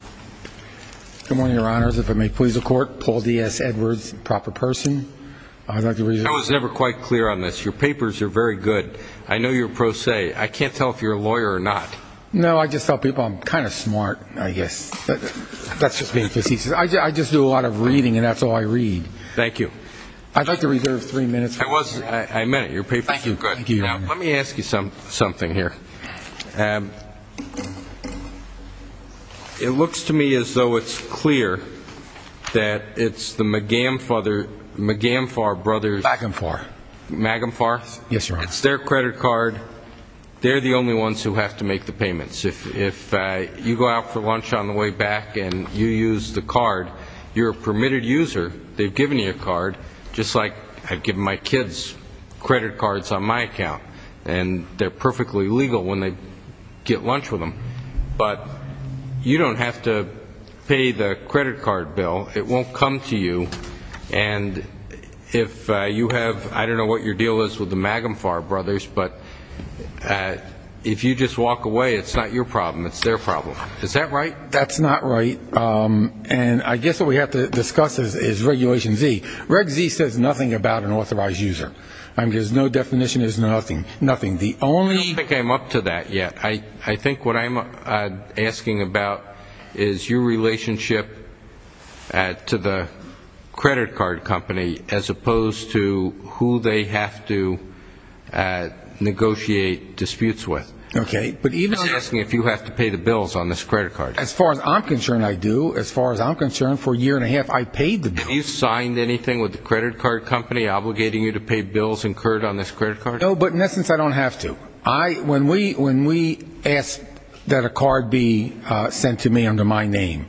Good morning, Your Honors. If it may please the Court, Paul D.S. Edwards, proper person. I'd like to reserve three minutes. I was never quite clear on this. Your papers are very good. I know you're pro se. I can't tell if you're a lawyer or not. No, I just tell people I'm kind of smart, I guess. That's just being facetious. I just do a lot of reading, and that's all I read. Thank you. I'd like to reserve three minutes. I meant it. Your papers are good. Thank you, Your Honor. Now, let me ask you something here. It looks to me as though it's clear that it's the Magamfar Brothers. Magamfar. Magamfar? Yes, Your Honor. It's their credit card. They're the only ones who have to make the payments. If you go out for lunch on the way back and you use the card, you're a permitted user. They've given you a card, just like I've given my kids credit cards on my account. And they're perfectly legal when they get lunch with them. But you don't have to pay the credit card bill. It won't come to you. And if you have, I don't know what your deal is with the Magamfar Brothers, but if you just walk away, it's not your problem. It's their problem. Is that right? That's not right. And I guess what we have to discuss is Regulation Z. Reg Z says nothing about an authorized user. There's no definition, there's nothing. I don't think I'm up to that yet. I think what I'm asking about is your relationship to the credit card company, as opposed to who they have to negotiate disputes with. Okay. I'm just asking if you have to pay the bills on this credit card. As far as I'm concerned, I do. As far as I'm concerned, for a year and a half, I paid the bills. Have you signed anything with the credit card company obligating you to pay bills incurred on this credit card? No, but in essence, I don't have to. When we ask that a card be sent to me under my name,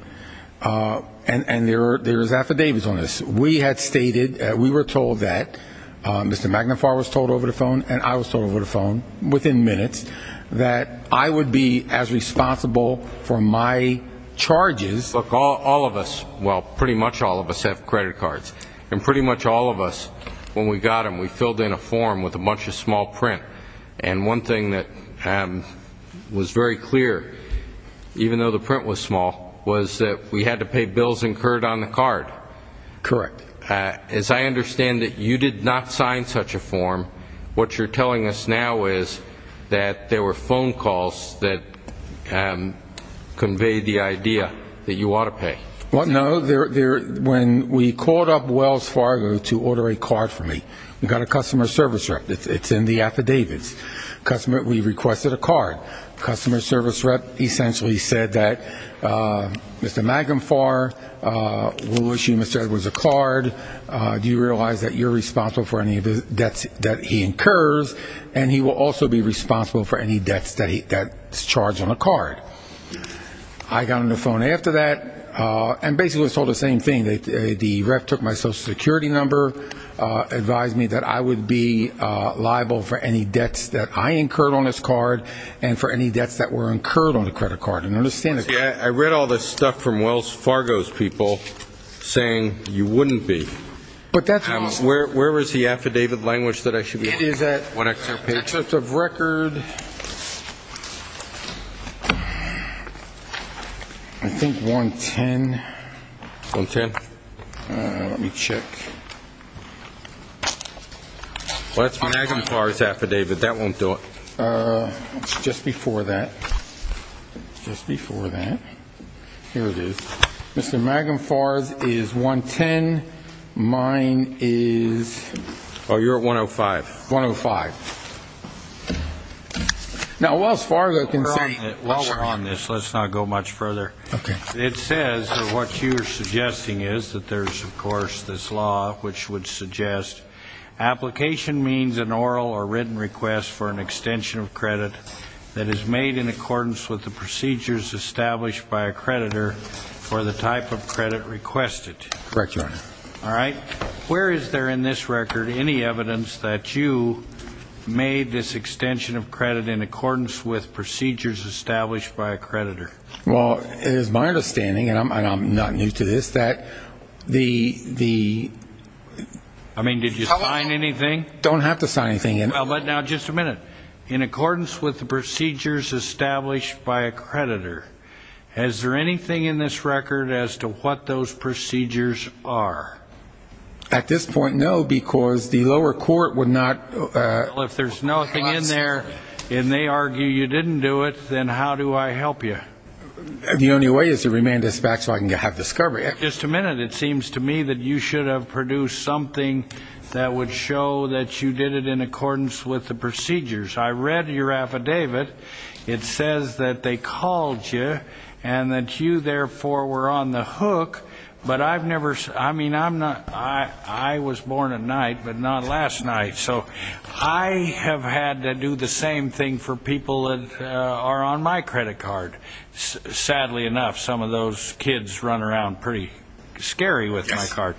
and there are affidavits on this, we had stated, we were told that, Mr. Magnafar was told over the phone and I was told over the phone, within minutes, that I would be as responsible for my charges. Look, all of us, well, pretty much all of us have credit cards. And pretty much all of us, when we got them, we filled in a form with a bunch of small print. And one thing that was very clear, even though the print was small, was that we had to pay bills incurred on the card. Correct. As I understand it, you did not sign such a form. What you're telling us now is that there were phone calls that conveyed the idea that you ought to pay. Well, no. When we called up Wells Fargo to order a card for me, we got a customer service rep. It's in the affidavits. We requested a card. Customer service rep essentially said that, Mr. Magnafar, we'll issue Mr. Edwards a card. Do you realize that you're responsible for any of the debts that he incurs, and he will also be responsible for any debts that's charged on a card. I got on the phone after that and basically was told the same thing. The rep took my Social Security number, advised me that I would be liable for any debts that I incurred on this card, and for any debts that were incurred on the credit card. See, I read all this stuff from Wells Fargo's people saying you wouldn't be. Where is the affidavit language that I should be looking for? It's at 1XRP. For the record, I think 110. 110? Let me check. Well, that's Magnafar's affidavit. That won't do it. Just before that, just before that, here it is. Mr. Magnafar's is 110. Mine is? Oh, you're at 105. 105. Now, Wells Fargo can say. While we're on this, let's not go much further. Okay. It says that what you're suggesting is that there's, of course, this law which would suggest application means an oral or written request for an extension of credit that is made in accordance with the procedures established by a creditor for the type of credit requested. Correct, Your Honor. All right. Where is there in this record any evidence that you made this extension of credit in accordance with procedures established by a creditor? Well, it is my understanding, and I'm not new to this, that the... I mean, did you sign anything? Don't have to sign anything. Well, but now, just a minute. In accordance with the procedures established by a creditor, is there anything in this record as to what those procedures are? At this point, no, because the lower court would not... The only way is to remand this back so I can have discovery. Just a minute. It seems to me that you should have produced something that would show that you did it in accordance with the procedures. I read your affidavit. It says that they called you and that you, therefore, were on the hook, but I've never... I mean, I'm not... I was born at night, but not last night. So I have had to do the same thing for people that are on my credit card. Sadly enough, some of those kids run around pretty scary with my card.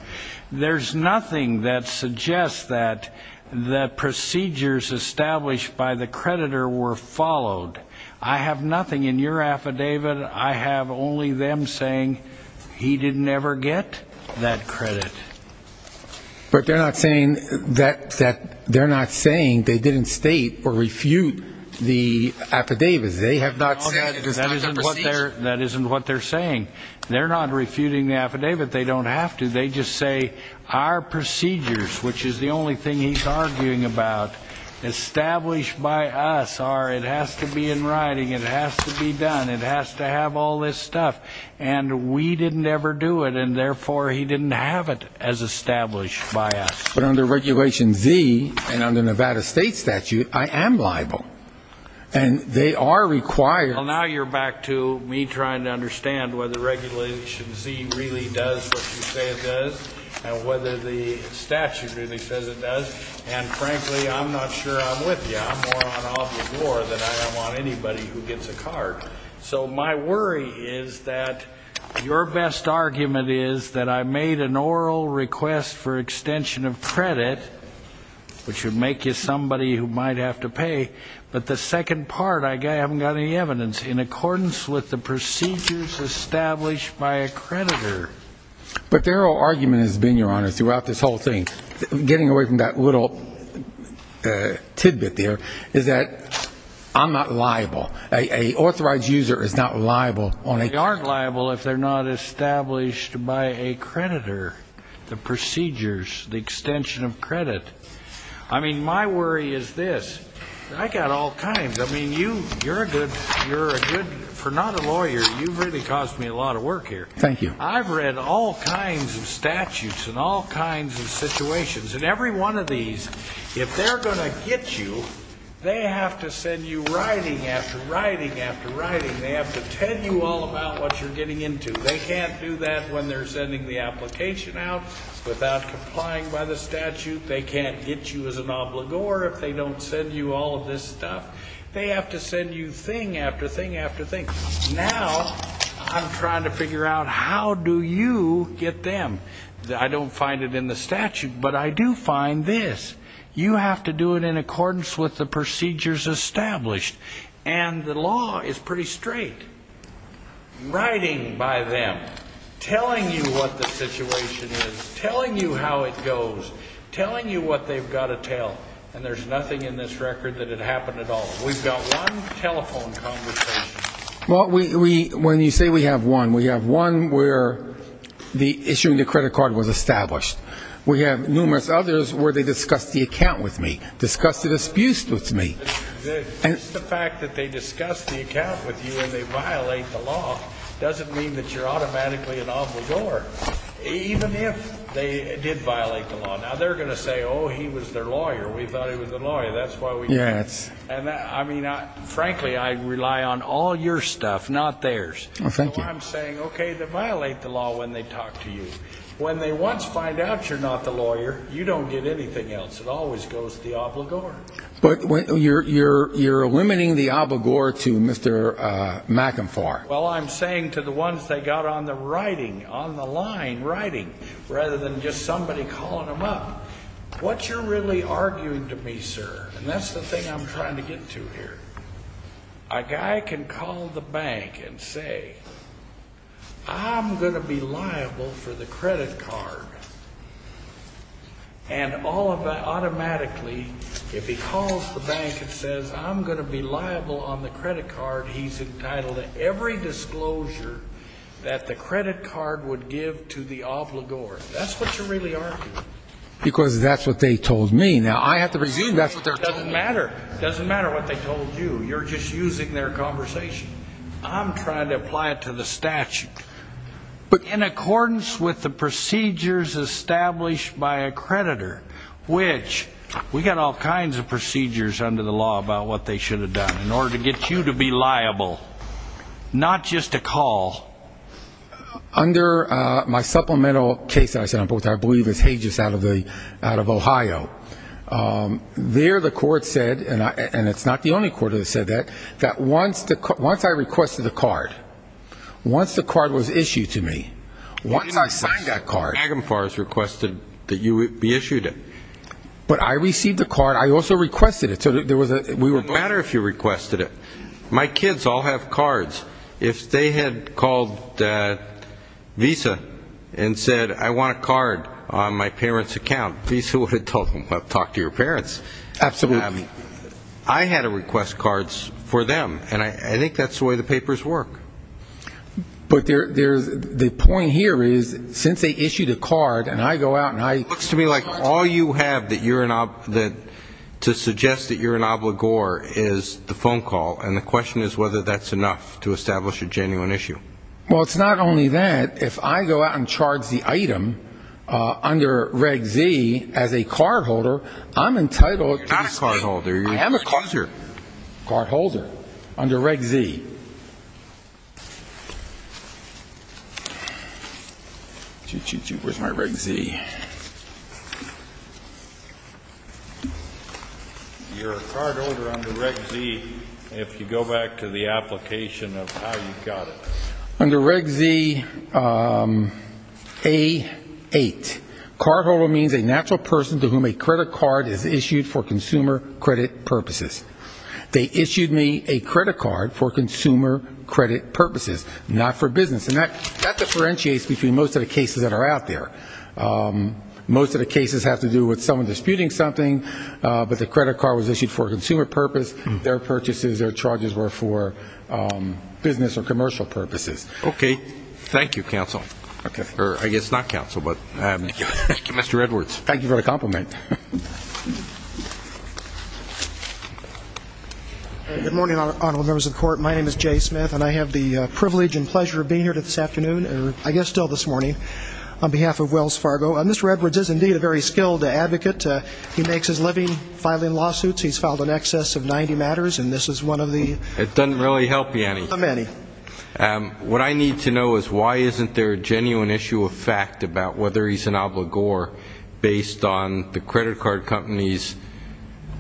There's nothing that suggests that the procedures established by the creditor were followed. I have nothing in your affidavit. I have only them saying he didn't ever get that credit. But they're not saying they didn't state or refute the affidavits. They have not said... That isn't what they're saying. They're not refuting the affidavit. They don't have to. They just say our procedures, which is the only thing he's arguing about, established by us, are it has to be in writing, it has to be done, it has to have all this stuff, and we didn't ever do it, and therefore he didn't have it as established by us. But under Regulation Z and under Nevada state statute, I am liable. And they are required... Well, now you're back to me trying to understand whether Regulation Z really does what you say it does and whether the statute really says it does. And frankly, I'm not sure I'm with you. I'm more on off the floor than I am on anybody who gets a card. So my worry is that your best argument is that I made an oral request for extension of credit, which would make you somebody who might have to pay, but the second part I haven't got any evidence in accordance with the procedures established by a creditor. But their whole argument has been, Your Honor, throughout this whole thing, getting away from that little tidbit there, is that I'm not liable. An authorized user is not liable. They aren't liable if they're not established by a creditor, the procedures, the extension of credit. I mean, my worry is this. I've got all kinds. I mean, you're a good, for not a lawyer, you've really caused me a lot of work here. Thank you. I've read all kinds of statutes and all kinds of situations, and every one of these, if they're going to get you, they have to send you writing after writing after writing. They have to tell you all about what you're getting into. They can't do that when they're sending the application out without complying by the statute. They can't get you as an obligor if they don't send you all of this stuff. They have to send you thing after thing after thing. Now I'm trying to figure out how do you get them. I don't find it in the statute, but I do find this. You have to do it in accordance with the procedures established, and the law is pretty straight. Writing by them, telling you what the situation is, telling you how it goes, telling you what they've got to tell, and there's nothing in this record that it happened at all. We've got one telephone conversation. Well, when you say we have one, we have one where the issuing the credit card was established. We have numerous others where they discussed the account with me, discussed the disputes with me. Just the fact that they discussed the account with you and they violate the law doesn't mean that you're automatically an obligor, even if they did violate the law. Now they're going to say, oh, he was their lawyer, we thought he was their lawyer, that's why we did it. Frankly, I rely on all your stuff, not theirs. So I'm saying, okay, they violate the law when they talk to you. When they once find out you're not the lawyer, you don't get anything else. It always goes to the obligor. But you're eliminating the obligor to Mr. McInfar. Well, I'm saying to the ones that got on the writing, on the line writing, rather than just somebody calling them up, what you're really arguing to me, sir, and that's the thing I'm trying to get to here, a guy can call the bank and say, I'm going to be liable for the credit card, and automatically if he calls the bank and says, I'm going to be liable on the credit card, he's entitled to every disclosure that the credit card would give to the obligor. That's what you're really arguing. Because that's what they told me. Now, I have to presume that's what they're telling me. It doesn't matter. It doesn't matter what they told you. You're just using their conversation. I'm trying to apply it to the statute. But in accordance with the procedures established by a creditor, which we got all kinds of procedures under the law about what they should have done in order to get you to be liable, not just to call. Under my supplemental case, I believe it's Hages out of Ohio, there the court said, and it's not the only court that said that, that once I requested a card, once the card was issued to me, once I signed that card, but I received the card, I also requested it. It wouldn't matter if you requested it. My kids all have cards. If they had called Visa and said, I want a card on my parents' account, Visa would have told them, well, talk to your parents. Absolutely. I had to request cards for them. And I think that's the way the papers work. But the point here is, since they issued a card, and I go out and I ---- It looks to me like all you have to suggest that you're an obligor is the phone call, and the question is whether that's enough to establish a genuine issue. Well, it's not only that. If I go out and charge the item under Reg Z as a cardholder, I'm entitled to ---- You're not a cardholder. I am a cardholder under Reg Z. Where's my Reg Z? Let me see. You're a cardholder under Reg Z if you go back to the application of how you got it. Under Reg Z A8, cardholder means a natural person to whom a credit card is issued for consumer credit purposes. They issued me a credit card for consumer credit purposes, not for business. And that differentiates between most of the cases that are out there. Most of the cases have to do with someone disputing something, but the credit card was issued for a consumer purpose. Their purchases, their charges were for business or commercial purposes. Okay. Thank you, counsel. Okay. Or I guess not counsel, but Mr. Edwards. Thank you for the compliment. Good morning, honorable members of the Court. My name is Jay Smith, and I have the privilege and pleasure of being here this afternoon, or I guess still this morning, on behalf of Wells Fargo. Mr. Edwards is, indeed, a very skilled advocate. He makes his living filing lawsuits. He's filed in excess of 90 matters, and this is one of the ---- It doesn't really help you any. How many? What I need to know is why isn't there a genuine issue of fact about whether he's an obligor based on the credit card company's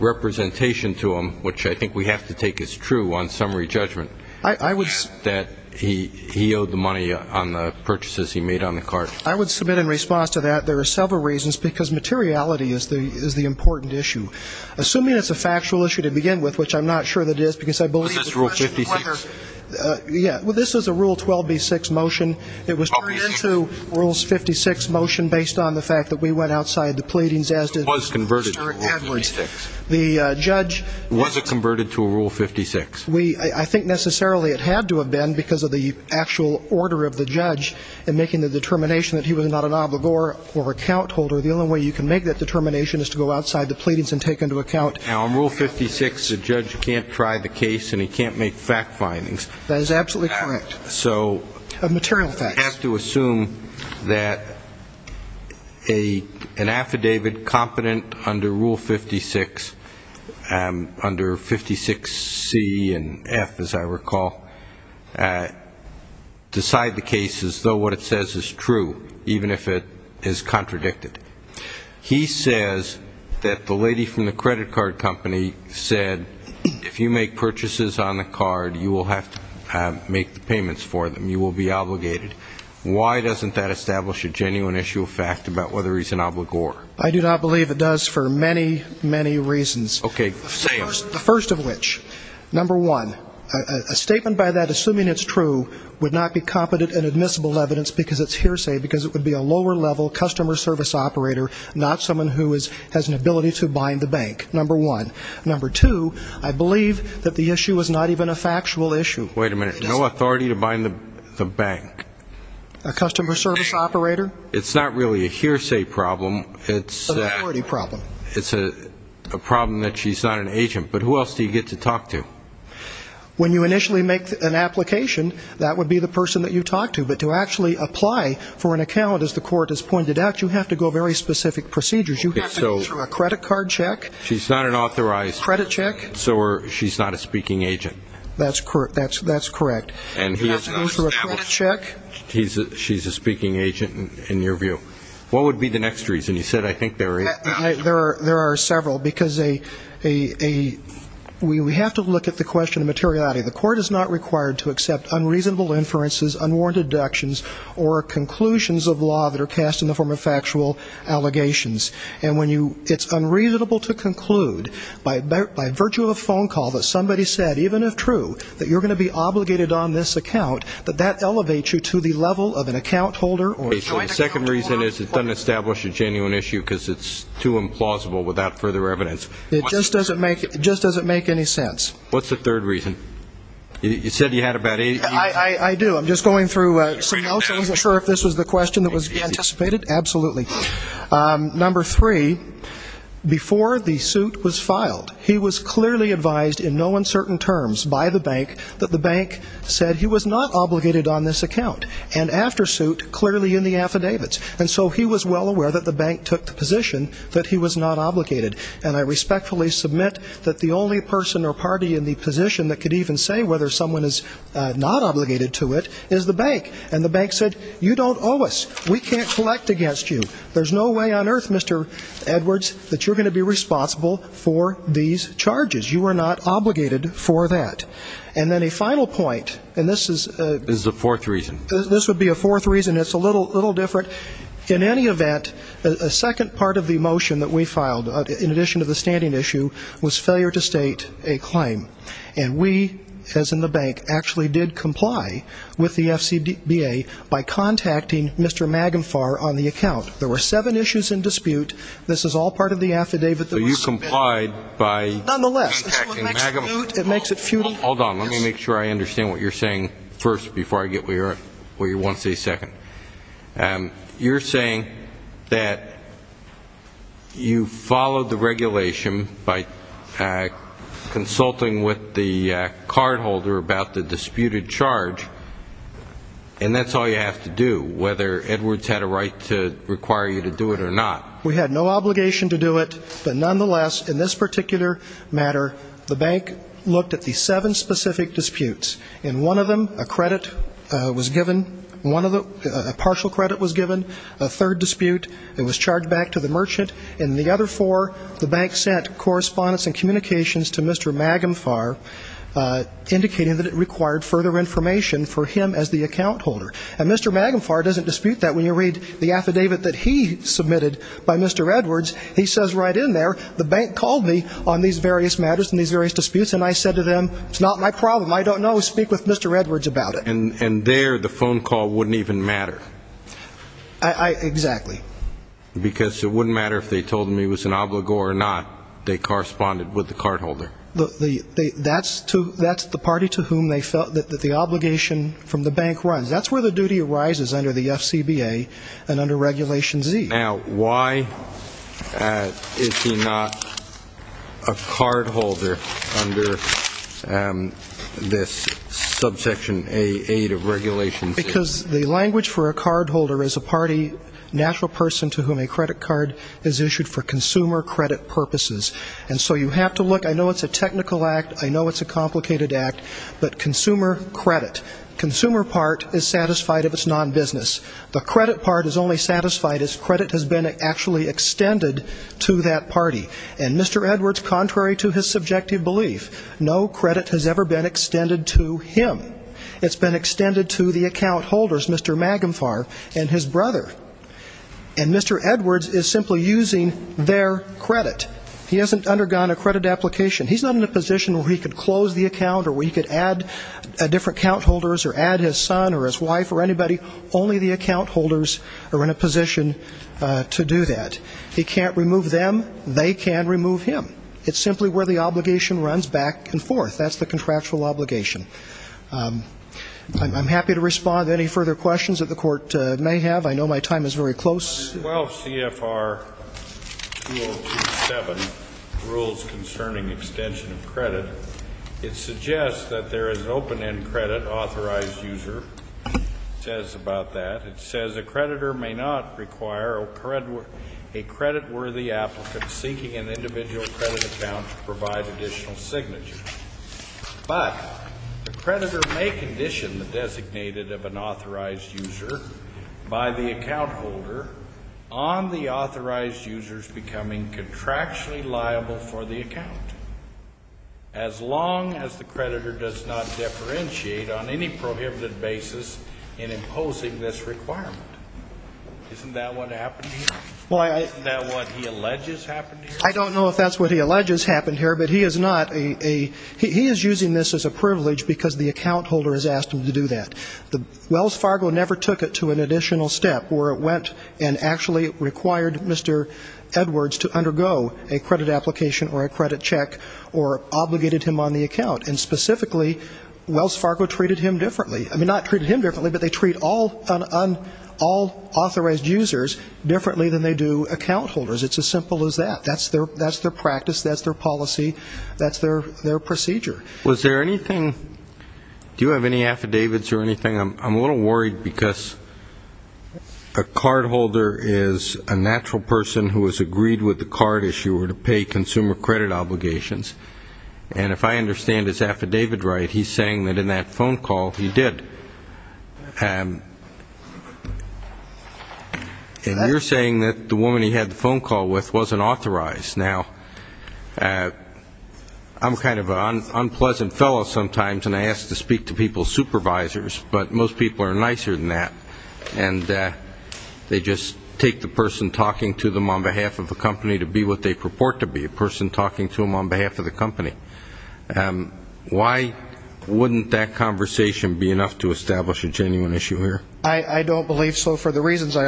representation to him, which I think we have to take as true on summary judgment, that he owed the money on the purchases he made on the card. I would submit in response to that there are several reasons, because materiality is the important issue. Assuming it's a factual issue to begin with, which I'm not sure that it is, because I believe the question is whether ---- Is this Rule 56? Yeah. Well, this is a Rule 12b-6 motion. It was turned into a Rules 56 motion based on the fact that we went outside the pleadings as did Mr. Edwards. It was converted to a Rule 56. The judge ---- Was it converted to a Rule 56? I think necessarily it had to have been because of the actual order of the judge in making the determination that he was not an obligor or account holder. The only way you can make that determination is to go outside the pleadings and take into account ---- Now, on Rule 56, the judge can't try the case and he can't make fact findings. That is absolutely correct. So ---- Material facts. You have to assume that an affidavit competent under Rule 56, under 56C and F, as I recall, decide the case as though what it says is true, even if it is contradicted. He says that the lady from the credit card company said, if you make purchases on the card, you will have to make the payments for them. You will be obligated. Why doesn't that establish a genuine issue of fact about whether he's an obligor? I do not believe it does for many, many reasons. Okay, say them. The first of which, number one, a statement by that, assuming it's true, would not be competent and admissible evidence because it's hearsay because it would be a lower-level customer service operator, not someone who has an ability to bind the bank, number one. Number two, I believe that the issue is not even a factual issue. Wait a minute. No authority to bind the bank? A customer service operator. It's not really a hearsay problem. It's an authority problem. It's a problem that she's not an agent. But who else do you get to talk to? When you initially make an application, that would be the person that you talk to. But to actually apply for an account, as the court has pointed out, you have to go very specific procedures. You have to go through a credit card check. She's not an authorized. Credit check. So she's not a speaking agent. That's correct. And he has to go through a credit check. She's a speaking agent, in your view. What would be the next reason? You said, I think, there are eight. There are several because we have to look at the question of materiality. The court is not required to accept unreasonable inferences, unwarranted deductions, or conclusions of law that are cast in the form of factual allegations. It's unreasonable to conclude, by virtue of a phone call, that somebody said, even if true, that you're going to be obligated on this account, that that elevates you to the level of an account holder. The second reason is it doesn't establish a genuine issue because it's too implausible without further evidence. It just doesn't make any sense. What's the third reason? You said you had about eight. I do. I'm just going through some notes. I wasn't sure if this was the question that was anticipated. Absolutely. Number three, before the suit was filed, he was clearly advised in no uncertain terms by the bank that the bank said he was not obligated on this account. And after suit, clearly in the affidavits. And so he was well aware that the bank took the position that he was not obligated. And I respectfully submit that the only person or party in the position that could even say whether someone is not obligated to it is the bank. And the bank said, you don't owe us. We can't collect against you. There's no way on earth, Mr. Edwards, that you're going to be responsible for these charges. You are not obligated for that. And then a final point, and this is the fourth reason. This would be a fourth reason. It's a little different. In any event, a second part of the motion that we filed, in addition to the standing issue, was failure to state a claim. And we, as in the bank, actually did comply with the FCBA by contacting Mr. Magenfar on the account. There were seven issues in dispute. This is all part of the affidavit that was submitted. So you complied by contacting Magenfar. Nonetheless, this is what makes it moot. It makes it futile. Hold on. Let me make sure I understand what you're saying first before I get where you want to say second. You're saying that you followed the regulation by consulting with the cardholder about the disputed charge, and that's all you have to do, whether Edwards had a right to require you to do it or not. We had no obligation to do it. But nonetheless, in this particular matter, the bank looked at the seven specific disputes. In one of them, a credit was given, a partial credit was given, a third dispute. It was charged back to the merchant. In the other four, the bank sent correspondence and communications to Mr. Magenfar, indicating that it required further information for him as the account holder. And Mr. Magenfar doesn't dispute that. When you read the affidavit that he submitted by Mr. Edwards, he says right in there, the bank called me on these various matters and these various disputes, and I said to them, it's not my problem. I don't know. Speak with Mr. Edwards about it. And there the phone call wouldn't even matter. Exactly. Because it wouldn't matter if they told him he was an obligor or not. They corresponded with the cardholder. That's the party to whom they felt that the obligation from the bank runs. That's where the duty arises under the FCBA and under Regulation Z. Now, why is he not a cardholder under this subsection 8 of Regulation Z? Because the language for a cardholder is a party, natural person to whom a credit card is issued for consumer credit purposes. And so you have to look. I know it's a technical act. I know it's a complicated act. But consumer credit, consumer part is satisfied if it's non-business. The credit part is only satisfied if credit has been actually extended to that party. And Mr. Edwards, contrary to his subjective belief, no credit has ever been extended to him. It's been extended to the account holders, Mr. Magenfar and his brother. And Mr. Edwards is simply using their credit. He hasn't undergone a credit application. He's not in a position where he could close the account or where he could add different account holders or add his son or his wife or anybody. Only the account holders are in a position to do that. He can't remove them. They can remove him. It's simply where the obligation runs back and forth. That's the contractual obligation. I'm happy to respond to any further questions that the Court may have. I know my time is very close. Well, CFR 2027 rules concerning extension of credit, it suggests that there is an open-end credit authorized user. It says about that, it says, a creditor may not require a creditworthy applicant seeking an individual credit account to provide additional signatures. But the creditor may condition the designated of an authorized user by the account holder on the authorized user's becoming contractually liable for the account, as long as the creditor does not differentiate on any prohibited basis in imposing this requirement. Isn't that what happened here? Isn't that what he alleges happened here? I don't know if that's what he alleges happened here, but he is using this as a privilege because the account holder has asked him to do that. Wells Fargo never took it to an additional step where it went and actually required Mr. Edwards to undergo a credit application or a credit check or obligated him on the account. And specifically, Wells Fargo treated him differently. I mean, not treated him differently, but they treat all authorized users differently than they do account holders. It's as simple as that. That's their practice. That's their policy. That's their procedure. Was there anything, do you have any affidavits or anything? I'm a little worried because a cardholder is a natural person who has agreed with the card issuer to pay consumer credit obligations. And if I understand his affidavit right, he's saying that in that phone call he did. And you're saying that the woman he had the phone call with wasn't authorized. Now, I'm kind of an unpleasant fellow sometimes, and I ask to speak to people's supervisors, but most people are nicer than that, and they just take the person talking to them on behalf of the company to be what they purport to be, a person talking to them on behalf of the company. Why wouldn't that conversation be enough to establish a genuine issuer? I don't believe so for the reasons I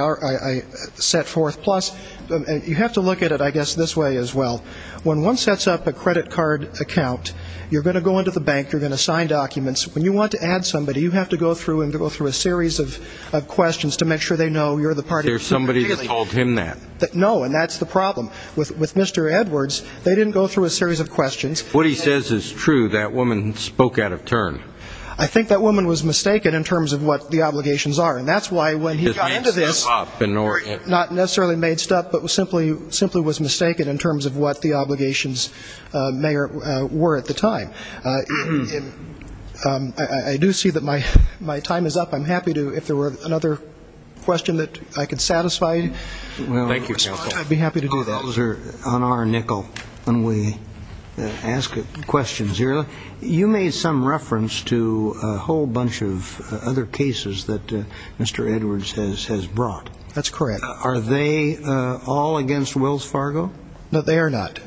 set forth. Plus, you have to look at it, I guess, this way as well. When one sets up a credit card account, you're going to go into the bank, you're going to sign documents. When you want to add somebody, you have to go through a series of questions to make sure they know you're the party. There's somebody that told him that. No, and that's the problem. With Mr. Edwards, they didn't go through a series of questions. What he says is true. That woman spoke out of turn. I think that woman was mistaken in terms of what the obligations are, and that's why when he got into this, not necessarily made stuff, but simply was mistaken in terms of what the obligations were at the time. I do see that my time is up. I'm happy to, if there were another question that I could satisfy, I'd be happy to do that. Those are on our nickel when we ask questions here. You made some reference to a whole bunch of other cases that Mr. Edwards has brought. That's correct. Are they all against Wells Fargo? No, they are not.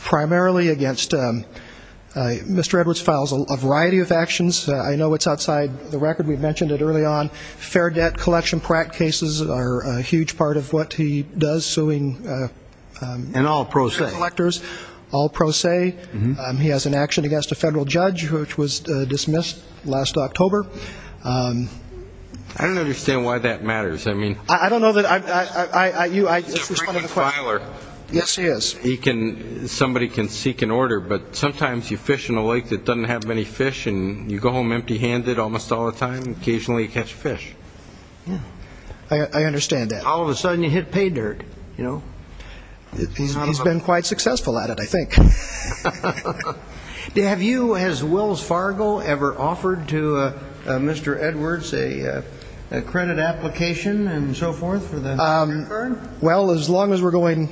Primarily against Mr. Edwards files a variety of actions. I know it's outside the record. We mentioned it early on. Fair debt collection practice cases are a huge part of what he does, suing collectors. And all pro se. All pro se. He has an action against a federal judge, which was dismissed last October. I don't understand why that matters. I don't know that I ---- He's a frequent filer. Yes, he is. Somebody can seek an order, but sometimes you fish in a lake that doesn't have many fish, and you go home empty-handed almost all the time, and occasionally you catch a fish. I understand that. All of a sudden you hit pay dirt, you know. He's been quite successful at it, I think. Have you, has Wells Fargo ever offered to Mr. Edwards a credit application and so forth? Well, as long as we're going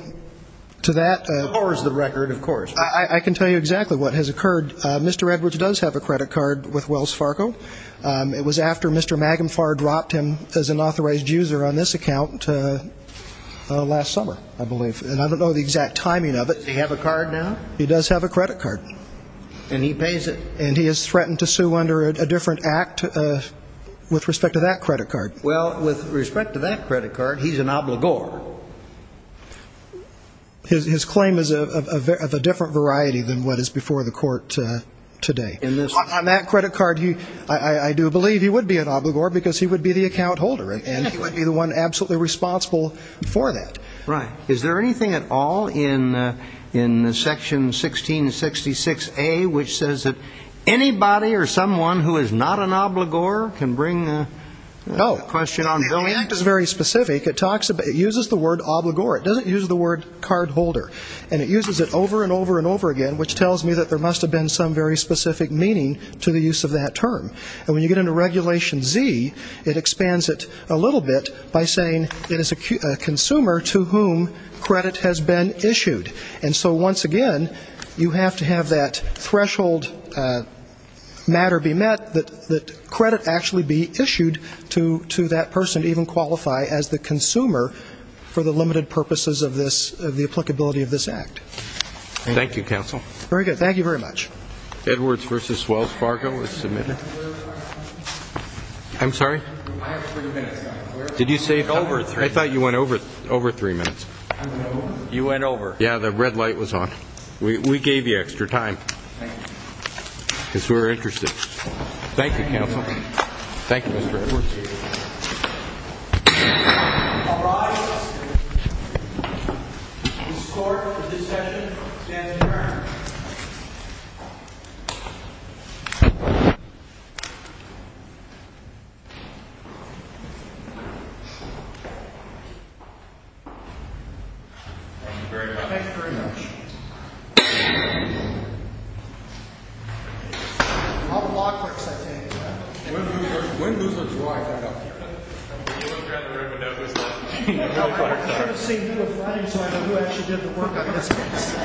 to that ---- Of course, the record, of course. I can tell you exactly what has occurred. Mr. Edwards does have a credit card with Wells Fargo. It was after Mr. Magenfar dropped him as an authorized user on this account last summer, I believe. And I don't know the exact timing of it. Does he have a card now? He does have a credit card. And he pays it? And he has threatened to sue under a different act with respect to that credit card. Well, with respect to that credit card, he's an obligor. His claim is of a different variety than what is before the court today. On that credit card, I do believe he would be an obligor because he would be the account holder. And he would be the one absolutely responsible for that. Right. Is there anything at all in Section 1666A which says that anybody or someone who is not an obligor can bring a question on? No. The act is very specific. It uses the word obligor. It doesn't use the word card holder. And it uses it over and over and over again, which tells me that there must have been some very specific meaning to the use of that term. And when you get into Regulation Z, it expands it a little bit by saying it is a consumer to whom credit has been issued. And so, once again, you have to have that threshold matter be met, that credit actually be issued to that person to even qualify as the consumer for the limited purposes of this, of the applicability of this act. Thank you, counsel. Very good. Thank you very much. Edwards v. Wells Fargo is submitted. I'm sorry? I have three minutes. Did you say over three? I thought you went over three minutes. You went over. Yeah, the red light was on. We gave you extra time. Thank you. Because we were interested. Thank you, counsel. Thank you, Mr. Edwards. All rise. The court for this session stands adjourned. Thank you very much. Thank you very much. I'll block her because I can't do that. When does the drive end up here? When you look around the room and don't know who's there. I'm going to see you on Friday so I know who actually did the work on this case.